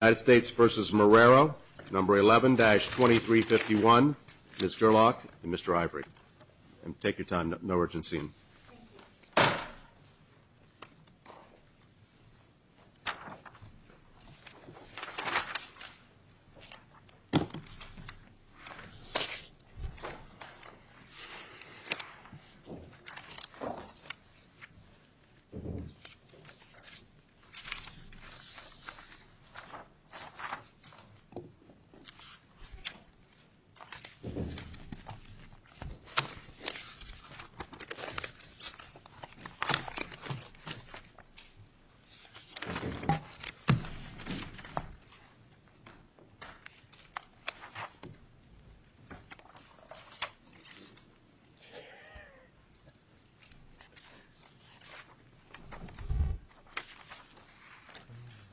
Number 11-2351, Ms. Gerlach and Mr. Ivory. Take your time, no urgency.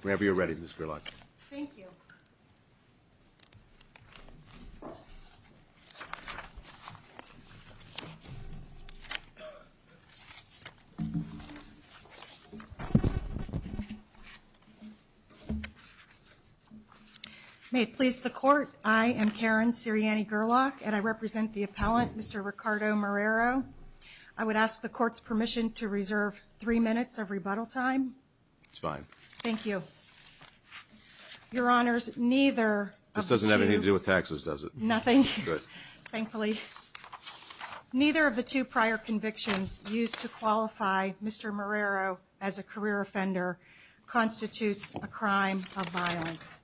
Whenever you're ready, Ms. Gerlach. Thank you. May it please the court. I am Karen Sirianni Gerlach and I represent the appellant, Mr. Ricardo Marrero. I would ask the court's permission to reserve three minutes of rebuttal time. It's fine. Thank you. Your honors, neither of the two... This doesn't have anything to do with taxes, does it? Nothing. Good. Thankfully, neither of the two prior convictions used to qualify Mr. Marrero as a career offender constitutes a crime of violence.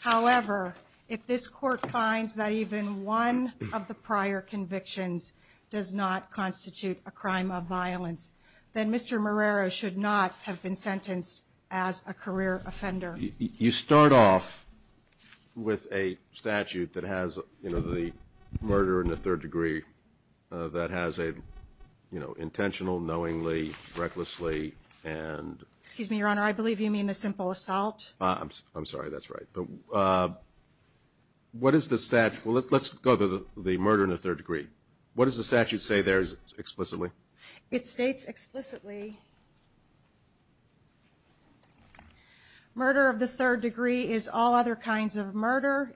However, if this court finds that even one of the prior convictions does not constitute a crime of violence, then Mr. Marrero should not have been sentenced as a career offender. You start off with a statute that has, you know, the murder in the third degree, that has a, you know, intentional, knowingly, recklessly, and... Excuse me, your honor, I believe you mean the simple assault. I'm sorry, that's right. What is the statute? Well, let's go to the murder in the third degree. What does the statute say there explicitly? It states explicitly murder of the third degree is all other kinds of murder,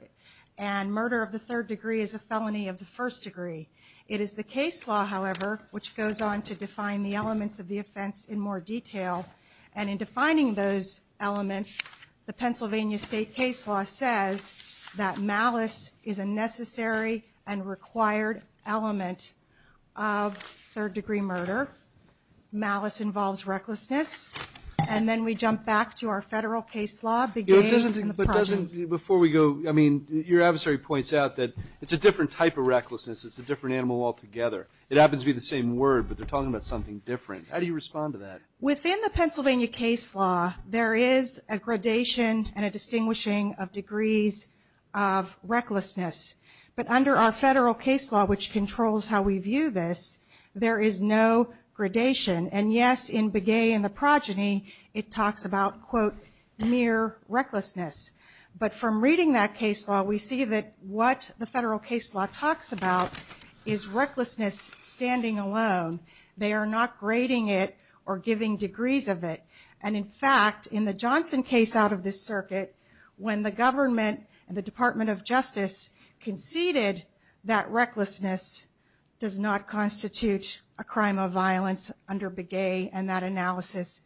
and murder of the third degree is a felony of the first degree. It is the case law, however, which goes on to define the elements of the offense in more detail, and in defining those elements, the Pennsylvania state case law says that malice is a necessary and required element of third degree murder. Malice involves recklessness, and then we jump back to our federal case law. But doesn't, before we go, I mean, your adversary points out that it's a different type of recklessness. It's a different animal altogether. It happens to be the same word, but they're talking about something different. How do you respond to that? Within the Pennsylvania case law, there is a gradation and a distinguishing of degrees of recklessness. But under our federal case law, which controls how we view this, there is no gradation. And yes, in Begay and the Progeny, it talks about, quote, mere recklessness. But from reading that case law, we see that what the federal case law talks about is recklessness standing alone. They are not grading it or giving degrees of it. And, in fact, in the Johnson case out of this circuit, when the government and the Department of Justice conceded that recklessness does not constitute a crime of violence under Begay and that analysis,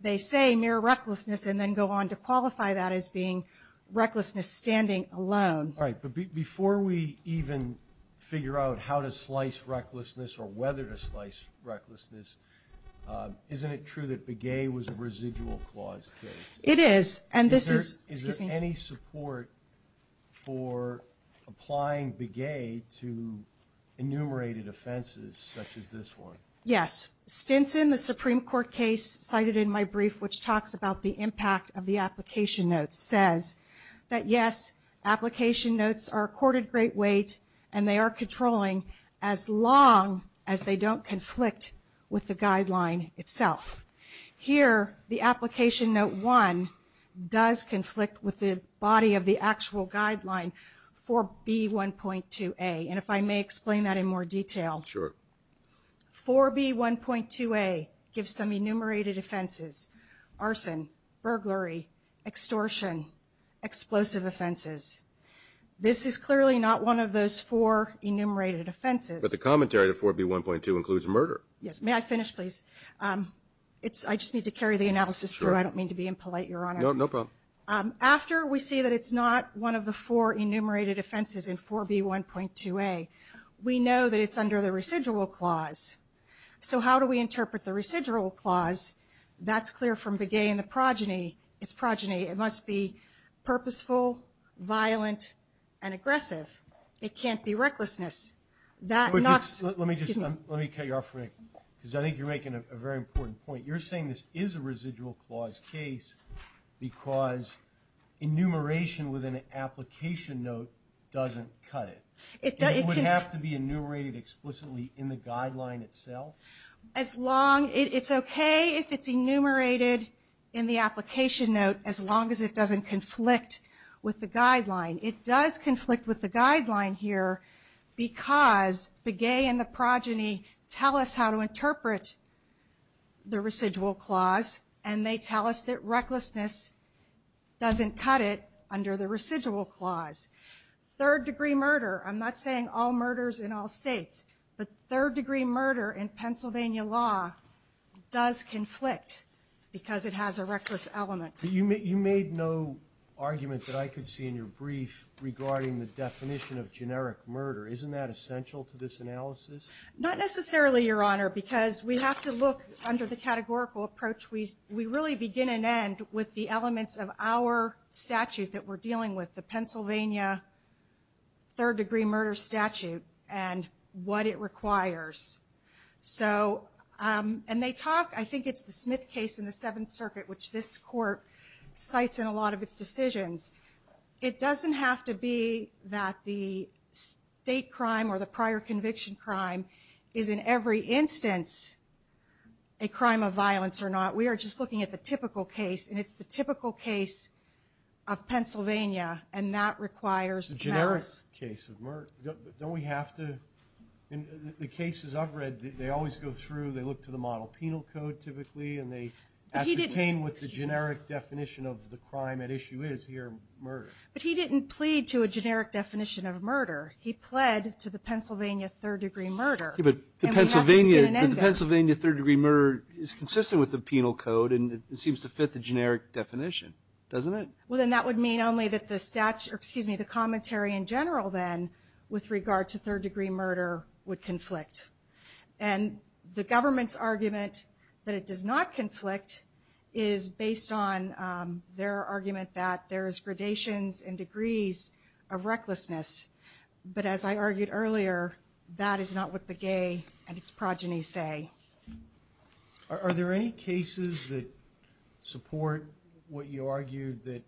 they say mere recklessness and then go on to qualify that as being recklessness standing alone. All right. But before we even figure out how to slice recklessness or whether to slice recklessness, isn't it true that Begay was a residual clause case? It is. And this is – excuse me. Is there any support for applying Begay to enumerated offenses such as this one? Yes. Stinson, the Supreme Court case cited in my brief, which talks about the impact of the application notes, says that, yes, application notes are accorded great weight and they are controlling as long as they don't conflict with the guideline itself. Here, the application note 1 does conflict with the body of the actual guideline for B1.2a. And if I may explain that in more detail. Sure. 4B1.2a gives some enumerated offenses, arson, burglary, extortion, explosive offenses. This is clearly not one of those four enumerated offenses. But the commentary to 4B1.2 includes murder. Yes. May I finish, please? I just need to carry the analysis through. I don't mean to be impolite, Your Honor. No problem. After we see that it's not one of the four enumerated offenses in 4B1.2a, we know that it's under the residual clause. So how do we interpret the residual clause? That's clear from Begay and the progeny. It's progeny. It must be purposeful, violent, and aggressive. It can't be recklessness. Let me cut you off for a minute because I think you're making a very important point. You're saying this is a residual clause case because enumeration with an application note doesn't cut it. It would have to be enumerated explicitly in the guideline itself? It's okay if it's enumerated in the application note as long as it doesn't conflict with the guideline. It does conflict with the guideline here because Begay and the progeny tell us how to interpret the residual clause, and they tell us that recklessness doesn't cut it under the residual clause. Third-degree murder, I'm not saying all murders in all states, but third-degree murder in Pennsylvania law does conflict because it has a reckless element. You made no argument that I could see in your brief regarding the definition of generic murder. Isn't that essential to this analysis? Not necessarily, Your Honor, because we have to look under the categorical approach. We really begin and end with the elements of our statute that we're dealing with, the Pennsylvania third-degree murder statute and what it requires. And they talk, I think it's the Smith case in the Seventh Circuit, which this court cites in a lot of its decisions. It doesn't have to be that the state crime or the prior conviction crime is in every instance a crime of violence or not. We are just looking at the typical case, and it's the typical case of Pennsylvania, and that requires merits. Don't we have to, in the cases I've read, they always go through, they look to the model penal code typically, and they ascertain what the generic definition of the crime at issue is here, murder. But he didn't plead to a generic definition of murder. He pled to the Pennsylvania third-degree murder. But the Pennsylvania third-degree murder is consistent with the penal code, and it seems to fit the generic definition, doesn't it? Well, then that would mean only that the commentary in general, then, with regard to third-degree murder would conflict. And the government's argument that it does not conflict is based on their argument that there's gradations and degrees of recklessness. But as I argued earlier, that is not what Begay and its progeny say. Are there any cases that support what you argued, that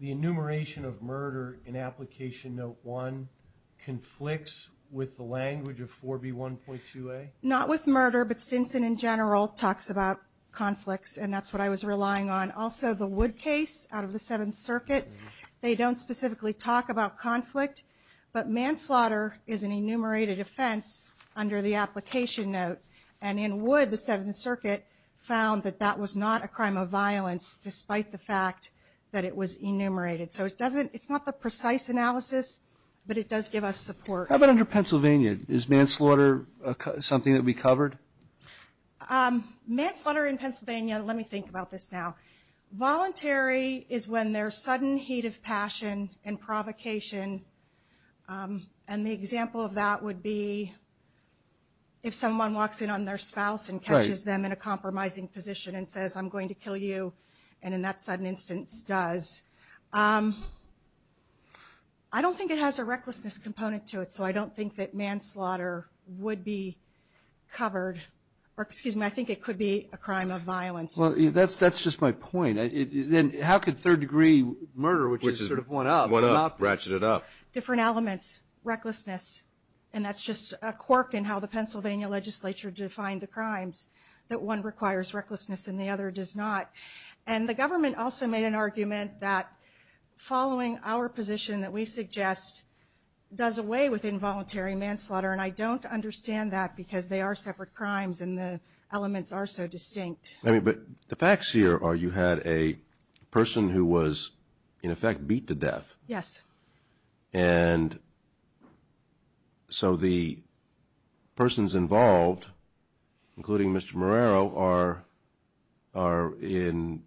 the enumeration of murder in Application Note 1 conflicts with the language of 4B1.2a? Not with murder, but Stinson in general talks about conflicts, and that's what I was relying on. Also, the Wood case out of the Seventh Circuit, they don't specifically talk about conflict, but manslaughter is an enumerated offense under the Application Note. And in Wood, the Seventh Circuit found that that was not a crime of violence, despite the fact that it was enumerated. So it's not the precise analysis, but it does give us support. How about under Pennsylvania? Is manslaughter something that would be covered? Manslaughter in Pennsylvania, let me think about this now. Voluntary is when there's sudden heat of passion and provocation, and the example of that would be if someone walks in on their spouse and catches them in a compromising position and says, I'm going to kill you, and in that sudden instance does. I don't think it has a recklessness component to it, so I don't think that manslaughter would be covered. Well, that's just my point. Then how could third-degree murder, which is sort of one-up. One-up, ratchet it up. Different elements, recklessness, and that's just a quirk in how the Pennsylvania legislature defined the crimes, that one requires recklessness and the other does not. And the government also made an argument that following our position that we suggest does away with involuntary manslaughter, and I don't understand that because they are separate crimes and the elements are so distinct. But the facts here are you had a person who was, in effect, beat to death. Yes. And so the persons involved, including Mr. Marrero, are in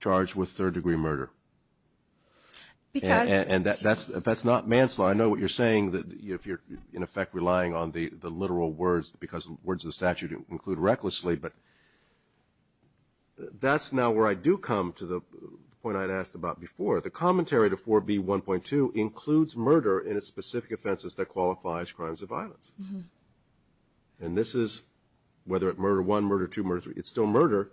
charge with third-degree murder. And that's not manslaughter. I know what you're saying, that if you're, in effect, relying on the literal words because the words of the statute include recklessly, but that's now where I do come to the point I'd asked about before. The commentary to 4B.1.2 includes murder in its specific offenses that qualifies crimes of violence. And this is, whether it's murder one, murder two, murder three, it's still murder.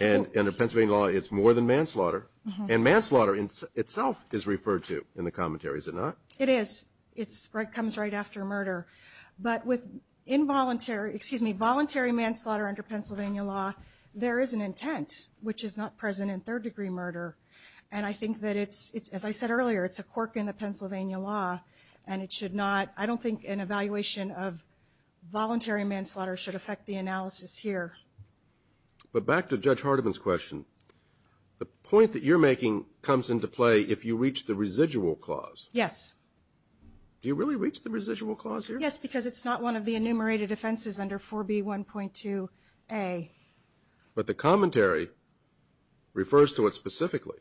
And in Pennsylvania law, it's more than manslaughter. And manslaughter itself is referred to in the commentary, is it not? It is. It comes right after murder. But with involuntary, excuse me, voluntary manslaughter under Pennsylvania law, there is an intent, which is not present in third-degree murder. And I think that it's, as I said earlier, it's a quirk in the Pennsylvania law, and it should not, I don't think an evaluation of voluntary manslaughter should affect the analysis here. But back to Judge Hardiman's question, the point that you're making comes into play if you reach the residual clause. Yes. Do you really reach the residual clause here? Yes, because it's not one of the enumerated offenses under 4B.1.2a. But the commentary refers to it specifically.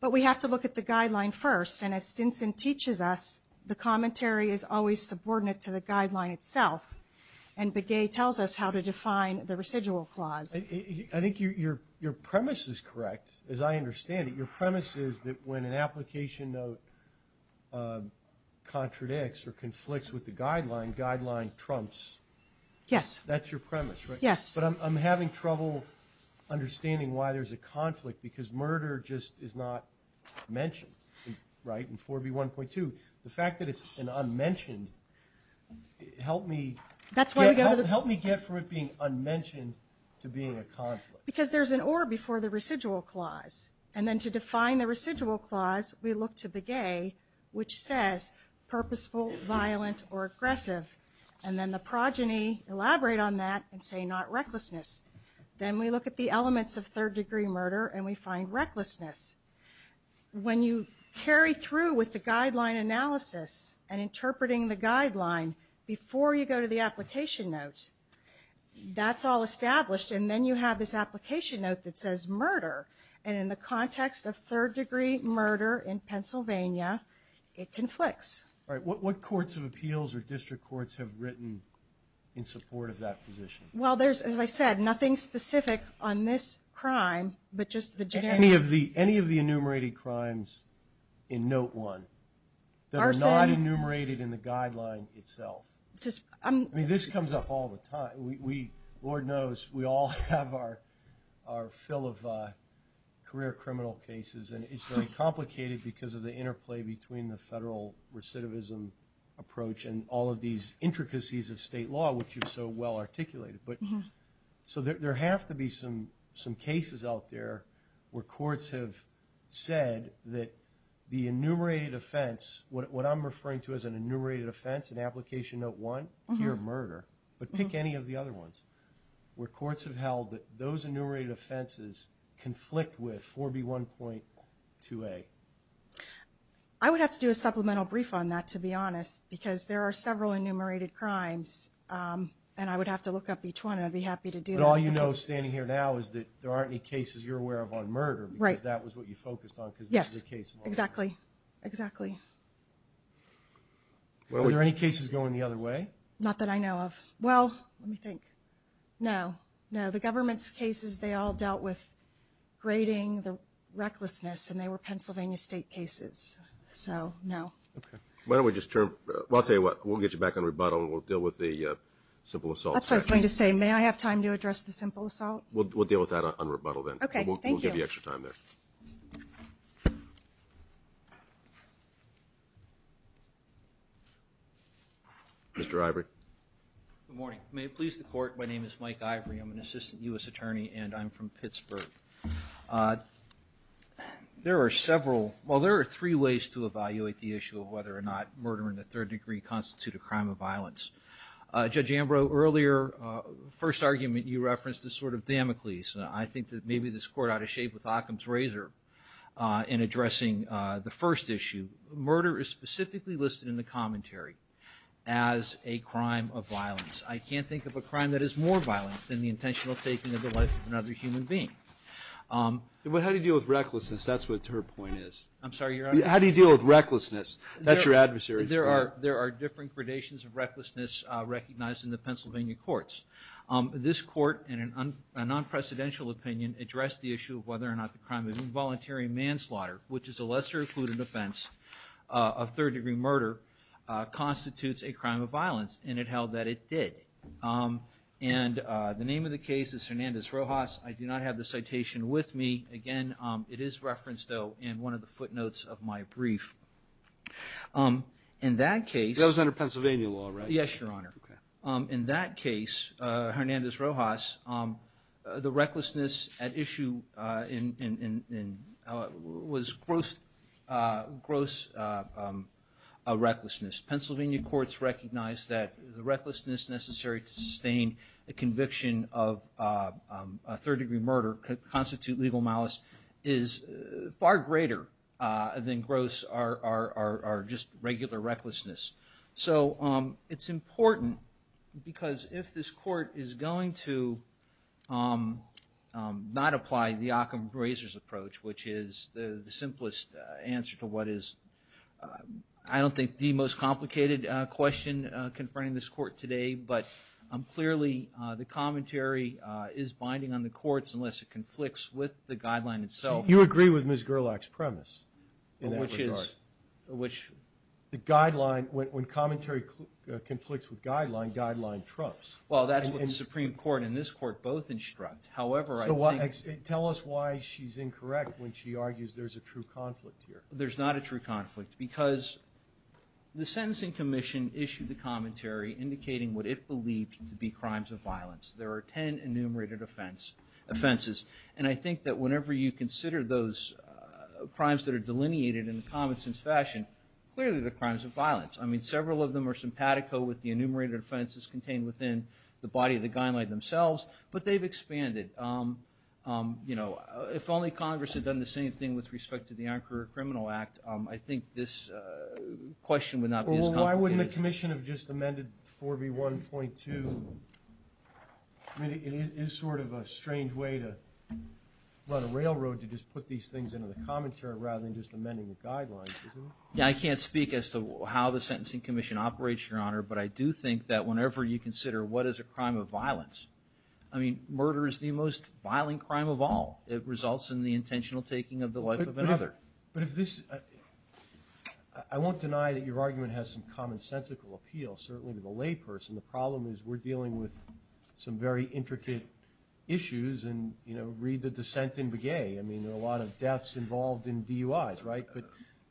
But we have to look at the guideline first. And as Stinson teaches us, the commentary is always subordinate to the guideline itself. And Begay tells us how to define the residual clause. I think your premise is correct, as I understand it. Your premise is that when an application note contradicts or conflicts with the guideline, guideline trumps. Yes. That's your premise, right? Yes. But I'm having trouble understanding why there's a conflict because murder just is not mentioned, right, in 4B.1.2. The fact that it's an unmentioned helped me get from it being unmentioned to being a conflict. Because there's an or before the residual clause. And then to define the residual clause, we look to Begay, which says purposeful, violent, or aggressive. And then the progeny elaborate on that and say not recklessness. Then we look at the elements of third-degree murder, and we find recklessness. When you carry through with the guideline analysis and interpreting the guideline before you go to the application note, that's all established. And then you have this application note that says murder. And in the context of third-degree murder in Pennsylvania, it conflicts. All right. What courts of appeals or district courts have written in support of that position? Well, there's, as I said, nothing specific on this crime, but just the generic. Any of the enumerated crimes in Note 1 that are not enumerated in the guideline itself. I mean, this comes up all the time. Lord knows we all have our fill of career criminal cases, and it's very complicated because of the interplay between the federal recidivism approach and all of these intricacies of state law, which are so well articulated. So there have to be some cases out there where courts have said that the enumerated offense, what I'm referring to as an enumerated offense in application Note 1, but pick any of the other ones where courts have held that those enumerated offenses conflict with 4B1.2A. I would have to do a supplemental brief on that, to be honest, because there are several enumerated crimes, and I would have to look up each one, and I'd be happy to do that. But all you know standing here now is that there aren't any cases you're aware of on murder, because that was what you focused on because this is a case of all of them. Yes, exactly. Are there any cases going the other way? Not that I know of. Well, let me think. No, no. The government's cases, they all dealt with grading, the recklessness, and they were Pennsylvania State cases. So no. Okay. Why don't we just turn? Well, I'll tell you what. We'll get you back on rebuttal, and we'll deal with the simple assault. That's what I was going to say. May I have time to address the simple assault? We'll deal with that on rebuttal then. Okay. Thank you. We'll give you extra time there. Thank you. Mr. Ivory. Good morning. May it please the Court, my name is Mike Ivory. I'm an assistant U.S. attorney, and I'm from Pittsburgh. There are several – well, there are three ways to evaluate the issue of whether or not murder in the third degree constitutes a crime of violence. Judge Ambrose, earlier, the first argument you referenced is sort of Damocles. I think that maybe this Court ought to shave with Occam's razor in addressing the first issue. Murder is specifically listed in the commentary as a crime of violence. I can't think of a crime that is more violent than the intentional taking of the life of another human being. How do you deal with recklessness? That's what her point is. I'm sorry, Your Honor? How do you deal with recklessness? That's your adversary. There are different gradations of recklessness recognized in the Pennsylvania courts. This Court, in a non-presidential opinion, addressed the issue of whether or not the crime of involuntary manslaughter, which is a lesser-included offense of third-degree murder, constitutes a crime of violence, and it held that it did. And the name of the case is Hernandez-Rojas. I do not have the citation with me. Again, it is referenced, though, in one of the footnotes of my brief. In that case – That was under Pennsylvania law, right? Yes, Your Honor. Okay. In that case, Hernandez-Rojas, the recklessness at issue was gross recklessness. Pennsylvania courts recognize that the recklessness necessary to sustain a conviction of a third-degree murder could constitute legal malice is far greater than gross or just regular recklessness. So it's important because if this Court is going to not apply the Occam-Grazer's approach, which is the simplest answer to what is, I don't think, the most complicated question confronting this Court today, but clearly the commentary is binding on the courts unless it conflicts with the guideline itself. So you agree with Ms. Gerlach's premise in that regard? Which is which? The guideline – when commentary conflicts with guideline, guideline trumps. Well, that's what the Supreme Court and this Court both instruct. However, I think – Tell us why she's incorrect when she argues there's a true conflict here. There's not a true conflict because the sentencing commission issued the commentary indicating what it believed to be crimes of violence. There are 10 enumerated offenses. And I think that whenever you consider those crimes that are delineated in a common-sense fashion, clearly they're crimes of violence. I mean, several of them are simpatico with the enumerated offenses contained within the body of the guideline themselves, but they've expanded. You know, if only Congress had done the same thing with respect to the Anchor Criminal Act, I think this question would not be as complicated. Well, why wouldn't the commission have just amended 4B1.2? I mean, it is sort of a strange way to run a railroad to just put these things into the commentary rather than just amending the guidelines, isn't it? Yeah, I can't speak as to how the sentencing commission operates, Your Honor, but I do think that whenever you consider what is a crime of violence, I mean, murder is the most violent crime of all. It results in the intentional taking of the life of another. But if this – I won't deny that your argument has some common-sensical appeal, certainly to the layperson. The problem is we're dealing with some very intricate issues, and, you know, read the dissent in Begay. I mean, there are a lot of deaths involved in DUIs, right?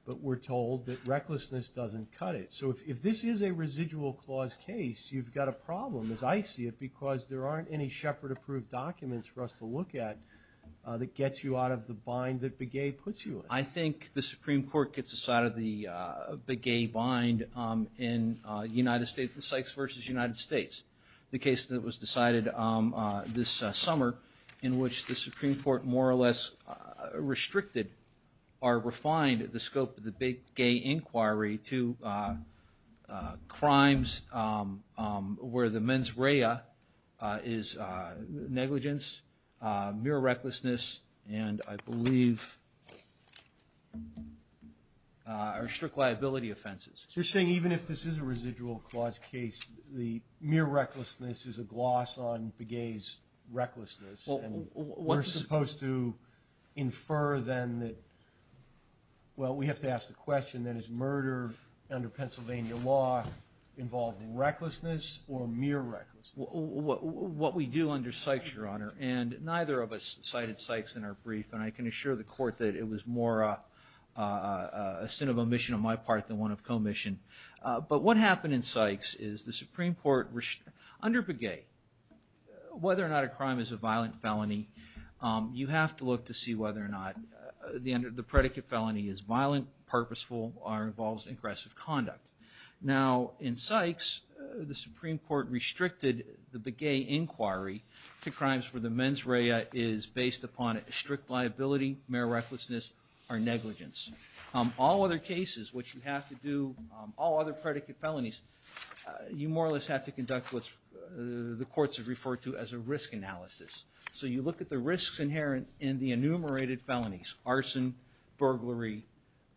But we're told that recklessness doesn't cut it. So if this is a residual clause case, you've got a problem, as I see it, because there aren't any Shepard-approved documents for us to look at that gets you out of the bind that Begay puts you in. I think the Supreme Court gets us out of the Begay bind in the Sykes v. United States, the case that was decided this summer in which the Supreme Court more or less restricted or refined the scope of the Begay inquiry to crimes where the mens rea is negligence, mere recklessness, and I believe are strict liability offenses. So you're saying even if this is a residual clause case, the mere recklessness is a gloss on Begay's recklessness, and we're supposed to infer then that, well, we have to ask the question, then, is murder under Pennsylvania law involved in recklessness or mere recklessness? What we do under Sykes, Your Honor, and neither of us cited Sykes in our brief, and I can assure the Court that it was more a sin of omission on my part than one of commission. But what happened in Sykes is the Supreme Court, under Begay, whether or not a crime is a violent felony, you have to look to see whether or not the predicate felony is violent, purposeful, or involves aggressive conduct. Now, in Sykes, the Supreme Court restricted the Begay inquiry to crimes where the mens rea is based upon strict liability, mere recklessness, or negligence. All other cases which you have to do, all other predicate felonies, you more or less have to conduct what the courts have referred to as a risk analysis. So you look at the risks inherent in the enumerated felonies, arson, burglary,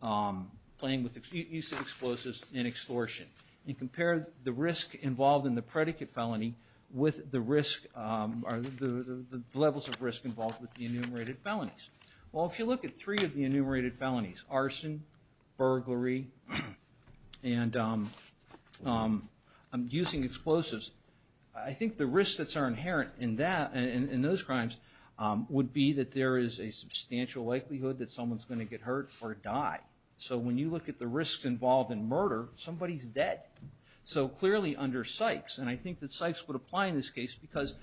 use of explosives, and extortion, and compare the risk involved in the predicate felony with the levels of risk involved with the enumerated felonies. Well, if you look at three of the enumerated felonies, arson, burglary, and using explosives, I think the risks that are inherent in those crimes would be that there is a substantial likelihood that someone's going to get hurt or die. So when you look at the risks involved in murder, somebody's dead. So clearly under Sykes, and I think that Sykes would apply in this case because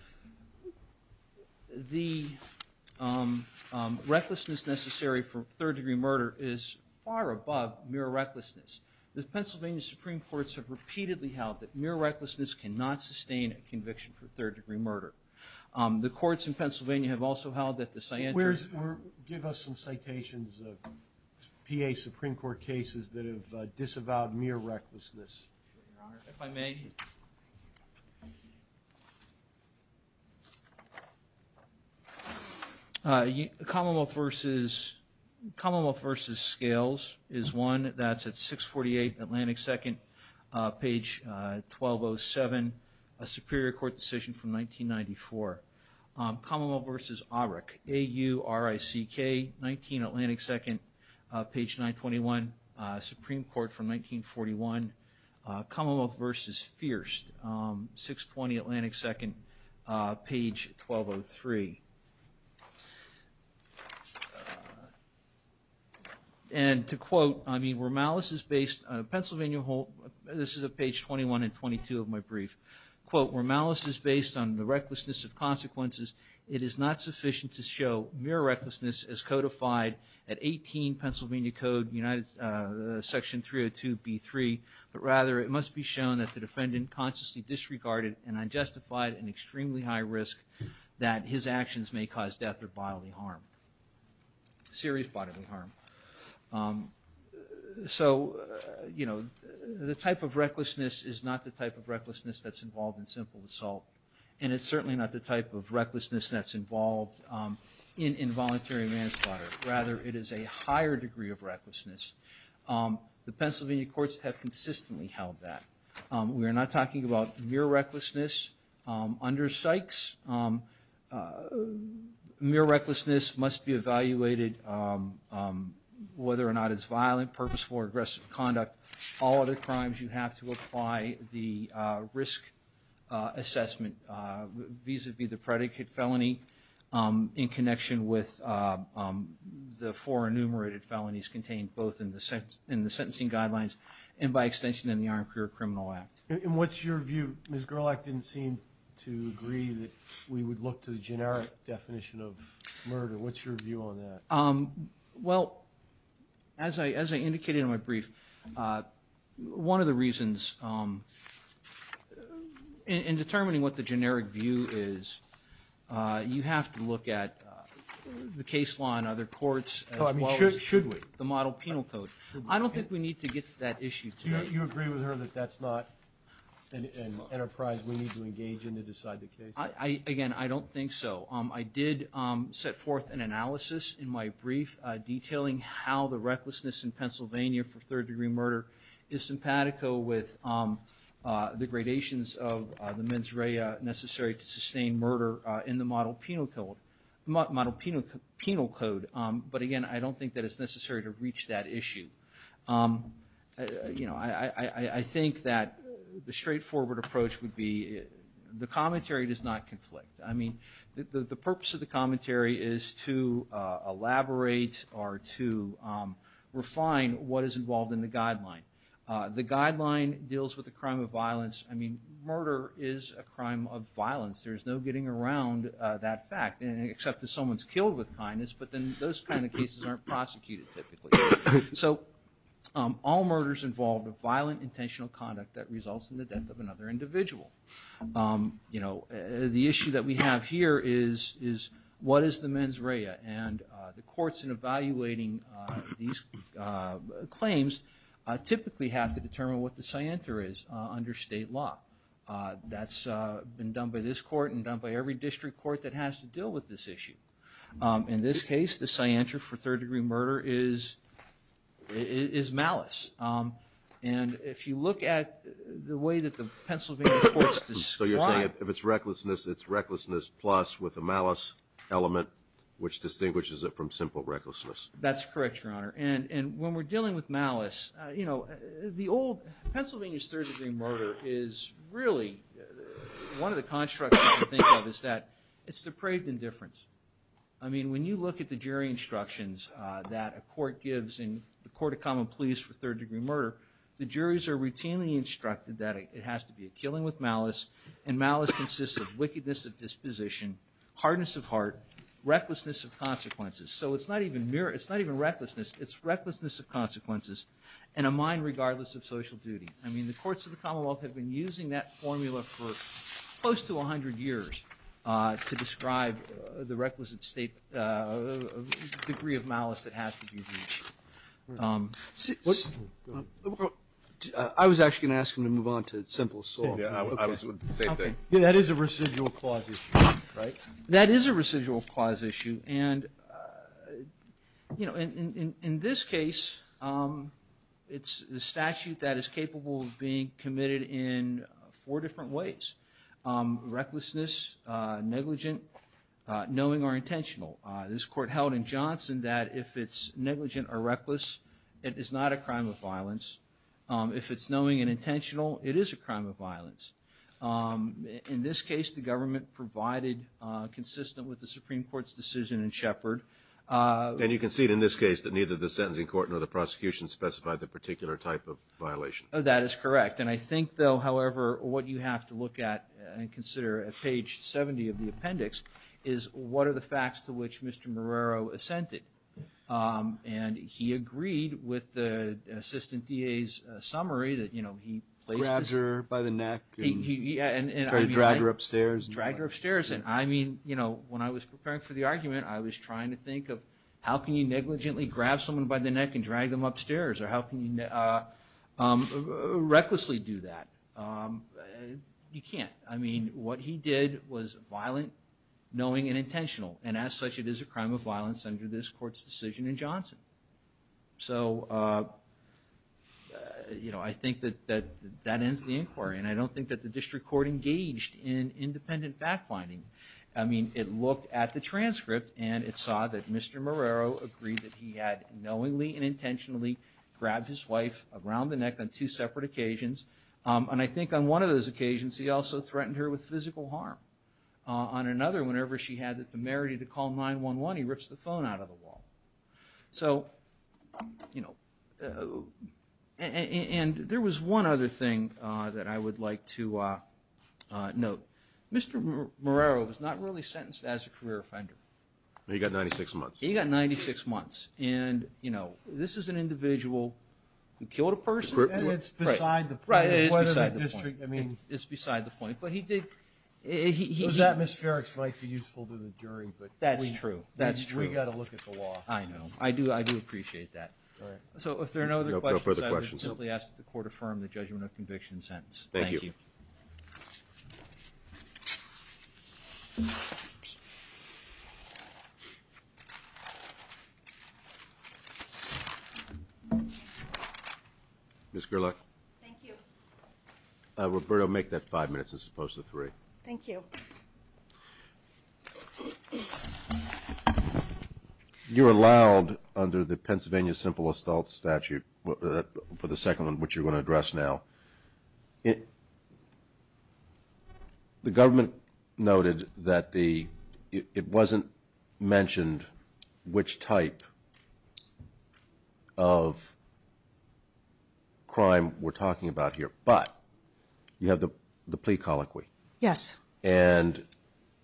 the recklessness necessary for third-degree murder is far above mere recklessness. The Pennsylvania Supreme Courts have repeatedly held that mere recklessness cannot sustain a conviction for third-degree murder. The courts in Pennsylvania have also held that the scientists... If I may. Commonwealth v. Scales is one. That's at 648 Atlantic 2nd, page 1207, a Superior Court decision from 1994. Commonwealth v. Aurek, A-U-R-I-C-K, 19 Atlantic 2nd, page 921, Supreme Court from 1941. Commonwealth v. Fierce, 620 Atlantic 2nd, page 1203. And to quote, I mean, where malice is based... Pennsylvania, this is at page 21 and 22 of my brief. Quote, where malice is based on the recklessness of consequences, it is not sufficient to show mere recklessness as codified at 18 Pennsylvania Code section 302B3, but rather it must be shown that the defendant consciously disregarded and unjustified an extremely high risk that his actions may cause death or bodily harm. Serious bodily harm. So, you know, the type of recklessness is not the type of recklessness that's involved in simple assault, and it's certainly not the type of recklessness that's involved in involuntary manslaughter. Rather, it is a higher degree of recklessness. The Pennsylvania courts have consistently held that. We are not talking about mere recklessness under Sykes. Mere recklessness must be evaluated whether or not it's violent, purposeful or aggressive conduct. All other crimes you have to apply the risk assessment vis-a-vis the predicate felony in connection with the four enumerated felonies contained both in the sentencing guidelines and by extension in the Armed Career Criminal Act. And what's your view? Ms. Gerlach didn't seem to agree that we would look to the generic definition of murder. What's your view on that? Well, as I indicated in my brief, one of the reasons in determining what the generic view is, you have to look at the case law in other courts as well as the model penal code. I don't think we need to get to that issue today. You agree with her that that's not an enterprise we need to engage in to decide the case? Again, I don't think so. I did set forth an analysis in my brief detailing how the recklessness in Pennsylvania for third-degree murder is simpatico with the gradations of the mens rea necessary to sustain murder in the model penal code. But again, I don't think that it's necessary to reach that issue. I think that the straightforward approach would be the commentary does not conflict. I mean, the purpose of the commentary is to elaborate or to refine what is involved in the guideline. The guideline deals with the crime of violence. I mean, murder is a crime of violence. There's no getting around that fact, except if someone's killed with kindness, but then those kind of cases aren't prosecuted typically. So all murders involve violent intentional conduct that results in the death of another individual. You know, the issue that we have here is what is the mens rea? And the courts in evaluating these claims typically have to determine what the scienter is under state law. That's been done by this court and done by every district court that has to deal with this issue. In this case, the scienter for third degree murder is malice. And if you look at the way that the Pennsylvania courts describe. So you're saying if it's recklessness, it's recklessness plus with a malice element, which distinguishes it from simple recklessness. That's correct, Your Honor. And when we're dealing with malice, you know, the old Pennsylvania's third degree murder is really one of the constructs that we think of is that it's depraved indifference. I mean, when you look at the jury instructions that a court gives in the court of common pleas for third degree murder, the juries are routinely instructed that it has to be a killing with malice. And malice consists of wickedness of disposition, hardness of heart, recklessness of consequences. So it's not even mere, it's not even recklessness. It's recklessness of consequences and a mind regardless of social duty. I mean, the courts of the Commonwealth have been using that formula for close to 100 years to describe the requisite degree of malice that has to be. I was actually going to ask him to move on to simple assault. That is a residual clause issue, right? That is a residual clause issue. And, you know, in this case, it's the statute that is capable of being committed in four different ways. Recklessness, negligent, knowing or intentional. This court held in Johnson that if it's negligent or reckless, it is not a crime of violence. If it's knowing and intentional, it is a crime of violence. In this case, the government provided consistent with the Supreme Court's decision in Shepard. And you can see in this case that neither the sentencing court nor the prosecution specified the particular type of violation. That is correct. And I think, though, however, what you have to look at and consider at page 70 of the appendix is what are the facts to which Mr. Marrero assented. And he agreed with the assistant DA's summary that, you know, he placed... Grabbed her by the neck and tried to drag her upstairs. Dragged her upstairs. And I mean, you know, when I was preparing for the argument, I was trying to think of how can you negligently grab someone by the neck and drag them upstairs? Or how can you recklessly do that? You can't. I mean, what he did was violent, knowing, and intentional. And as such, it is a crime of violence under this court's decision in Johnson. So, you know, I think that that ends the inquiry. And I don't think that the district court engaged in independent fact-finding. I mean, it looked at the transcript and it saw that Mr. Marrero agreed that he had knowingly and intentionally grabbed his wife around the neck on two separate occasions. And I think on one of those occasions, he also threatened her with physical harm. On another, whenever she had the merity to call 911, he rips the phone out of the wall. So, you know, and there was one other thing that I would like to note. Mr. Marrero was not really sentenced as a career offender. He got 96 months. He got 96 months. And, you know, this is an individual who killed a person. And it's beside the point. Right, it is beside the point. It's beside the point. Those atmospherics might be useful to the jury. That's true. We've got to look at the law. I know. I do appreciate that. All right. So if there are no other questions, I would simply ask that the court affirm the judgment of conviction sentence. Thank you. Thank you. Ms. Gerlach. Thank you. Roberto, make that five minutes as opposed to three. Thank you. You're allowed, under the Pennsylvania simple assault statute, for the second one, which you're going to address now. The government noted that it wasn't mentioned which type of crime we're talking about here. But you have the plea colloquy. Yes. And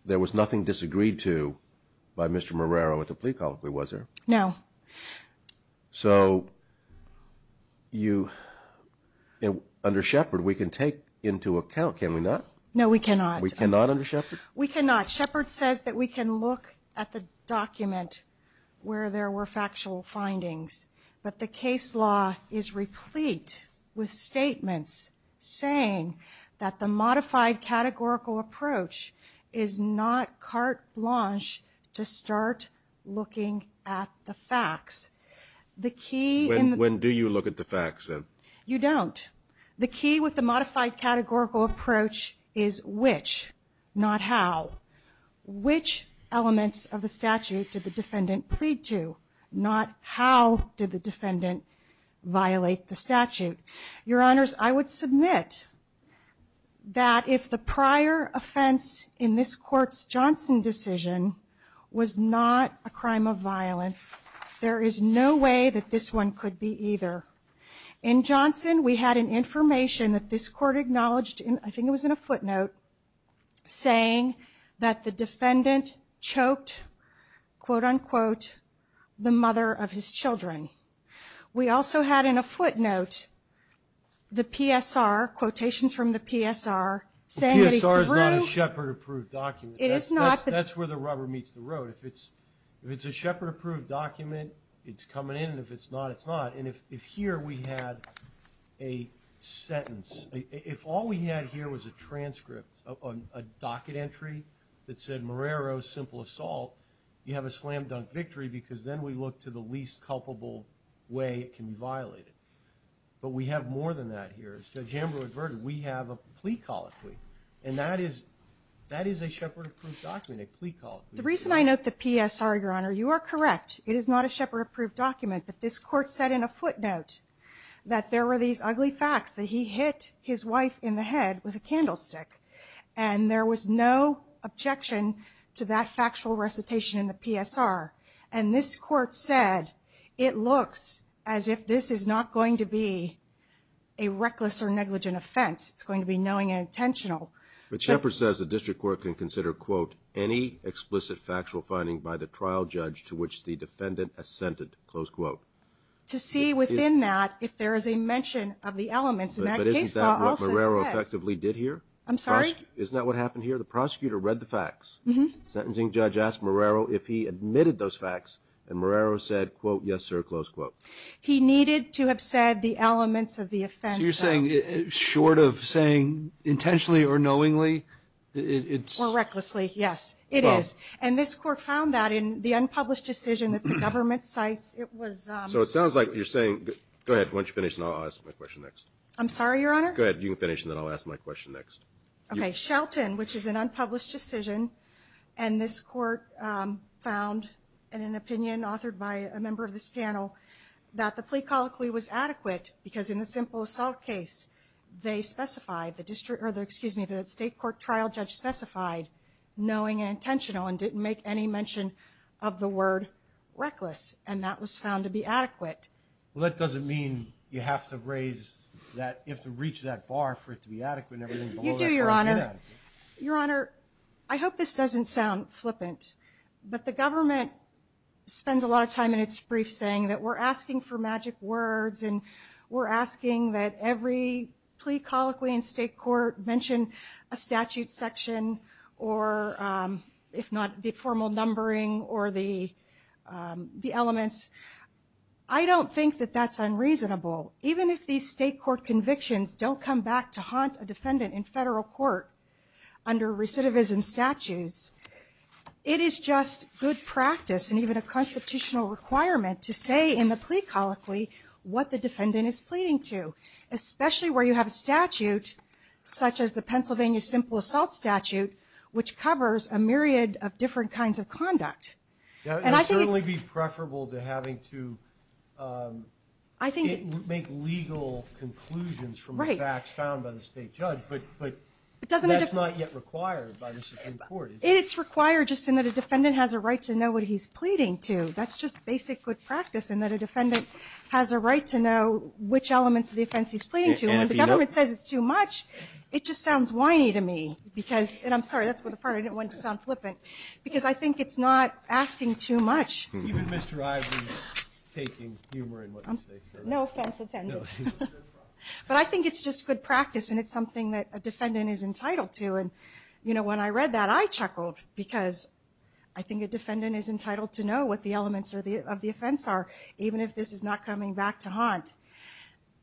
there was nothing disagreed to by Mr. Marrero with the plea colloquy, was there? No. So under Shepard, we can take into account, can we not? No, we cannot. We cannot under Shepard? We cannot. Shepard says that we can look at the document where there were factual findings. But the case law is replete with statements saying that the modified categorical approach is not carte blanche to start looking at the facts. When do you look at the facts, then? You don't. The key with the modified categorical approach is which, not how. Which elements of the statute did the defendant plead to, not how did the defendant violate the statute? Your Honors, I would submit that if the prior offense in this Court's Johnson decision was not a crime of violence, there is no way that this one could be either. In Johnson, we had an information that this Court acknowledged, I think it was in a footnote, saying that the defendant choked, quote-unquote, the mother of his children. We also had in a footnote the PSR, quotations from the PSR, saying that he threw... The PSR is not a Shepard-approved document. It is not. That's where the rubber meets the road. If it's a Shepard-approved document, it's coming in, and if it's not, it's not. And if here we had a sentence, if all we had here was a transcript, a docket entry that said, Marrero, simple assault, you have a slam-dunk victory because then we look to the least culpable way it can be violated. But we have more than that here. As Judge Amberle adverted, we have a plea colloquy. And that is a Shepard-approved document, a plea colloquy. The reason I note the PSR, Your Honor, you are correct. It is not a Shepard-approved document. But this Court said in a footnote that there were these ugly facts, that he hit his wife in the head with a candlestick. And there was no objection to that factual recitation in the PSR. And this Court said it looks as if this is not going to be a reckless or negligent offense. It's going to be knowing and intentional. But Shepard says the district court can consider, quote, any explicit factual finding by the trial judge to which the defendant assented, close quote. To see within that if there is a mention of the elements in that case law also says. But isn't that what Marrero effectively did here? I'm sorry? Isn't that what happened here? The prosecutor read the facts. Sentencing judge asked Marrero if he admitted those facts. And Marrero said, quote, yes, sir, close quote. He needed to have said the elements of the offense, though. So you're saying short of saying intentionally or knowingly, it's. Or recklessly, yes, it is. And this Court found that in the unpublished decision that the government cites, it was. So it sounds like you're saying, go ahead, why don't you finish and I'll ask my question next. I'm sorry, Your Honor? Go ahead, you can finish and then I'll ask my question next. Okay, Shelton, which is an unpublished decision. And this Court found in an opinion authored by a member of this panel that the plea colloquy was adequate because in the simple assault case, they specified the district or the, excuse me, the state court trial judge specified knowing and intentional and didn't make any mention of the word reckless. And that was found to be adequate. Well, that doesn't mean you have to raise that, you have to reach that bar for it to be adequate. You do, Your Honor. Your Honor, I hope this doesn't sound flippant, but the government spends a lot of time in its brief saying that we're asking for magic words and we're asking that every plea colloquy in state court mention a statute section or, if not, the formal numbering or the elements. I don't think that that's unreasonable. Even if these state court convictions don't come back to haunt a defendant in federal court under recidivism statutes, it is just good practice and even a constitutional requirement to say in the plea colloquy what the defendant is pleading to, especially where you have a statute such as the Pennsylvania simple assault statute, which covers a myriad of different kinds of conduct. It would certainly be preferable to having to make legal conclusions from the facts found by the state judge, but that's not yet required by the Supreme Court. It's required just in that a defendant has a right to know what he's pleading to. That's just basic good practice in that a defendant has a right to know which elements of the offense he's pleading to. When the government says it's too much, it just sounds whiny to me because – and I'm sorry, that's the part I didn't want to sound flippant – because I think it's not asking too much. Even Mr. Ivey is taking humor in what he's saying. No offense intended. But I think it's just good practice and it's something that a defendant is entitled to. When I read that, I chuckled because I think a defendant is entitled to know what the elements of the offense are, even if this is not coming back to haunt.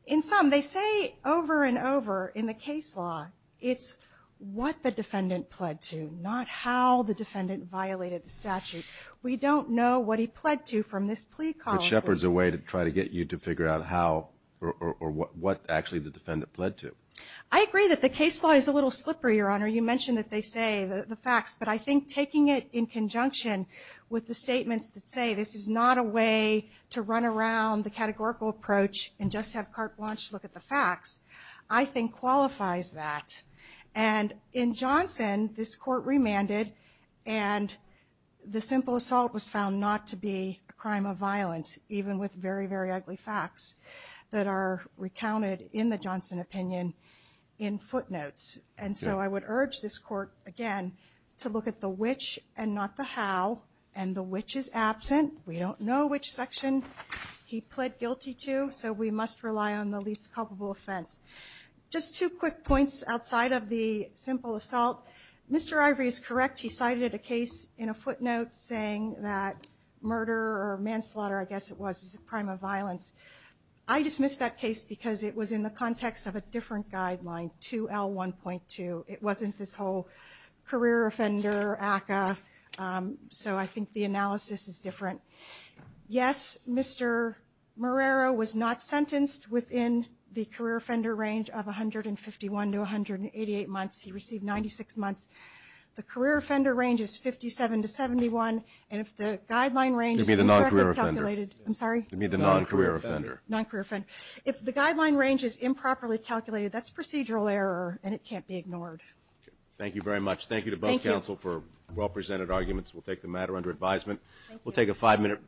In sum, they say over and over in the case law, it's what the defendant pled to, not how the defendant violated the statute. We don't know what he pled to from this plea column. But Shepard's a way to try to get you to figure out how or what actually the defendant pled to. I agree that the case law is a little slippery, Your Honor. You mentioned that they say the facts. But I think taking it in conjunction with the statements that say this is not a way to run around the categorical approach and just have carte blanche look at the facts, I think qualifies that. And in Johnson, this court remanded and the simple assault was found not to be a crime of violence, even with very, very ugly facts that are recounted in the Johnson opinion in footnotes. And so I would urge this court, again, to look at the which and not the how. And the which is absent. We don't know which section he pled guilty to, so we must rely on the least culpable offense. Just two quick points outside of the simple assault. Mr. Ivory is correct. He cited a case in a footnote saying that murder or manslaughter, I guess it was, is a crime of violence. I dismissed that case because it was in the context of a different guideline, 2L1.2. It wasn't this whole career offender ACCA. So I think the analysis is different. Yes, Mr. Marrero was not sentenced within the career offender range of 151 to 188 months. He received 96 months. The career offender range is 57 to 71. And if the guideline range is incorrectly calculated. You mean the non-career offender? I'm sorry? You mean the non-career offender? Non-career offender. If the guideline range is improperly calculated, that's procedural error and it can't be ignored. Thank you very much. Thank you to both counsel for well-presented arguments. We'll take the matter under advisement. We'll take a five-minute break.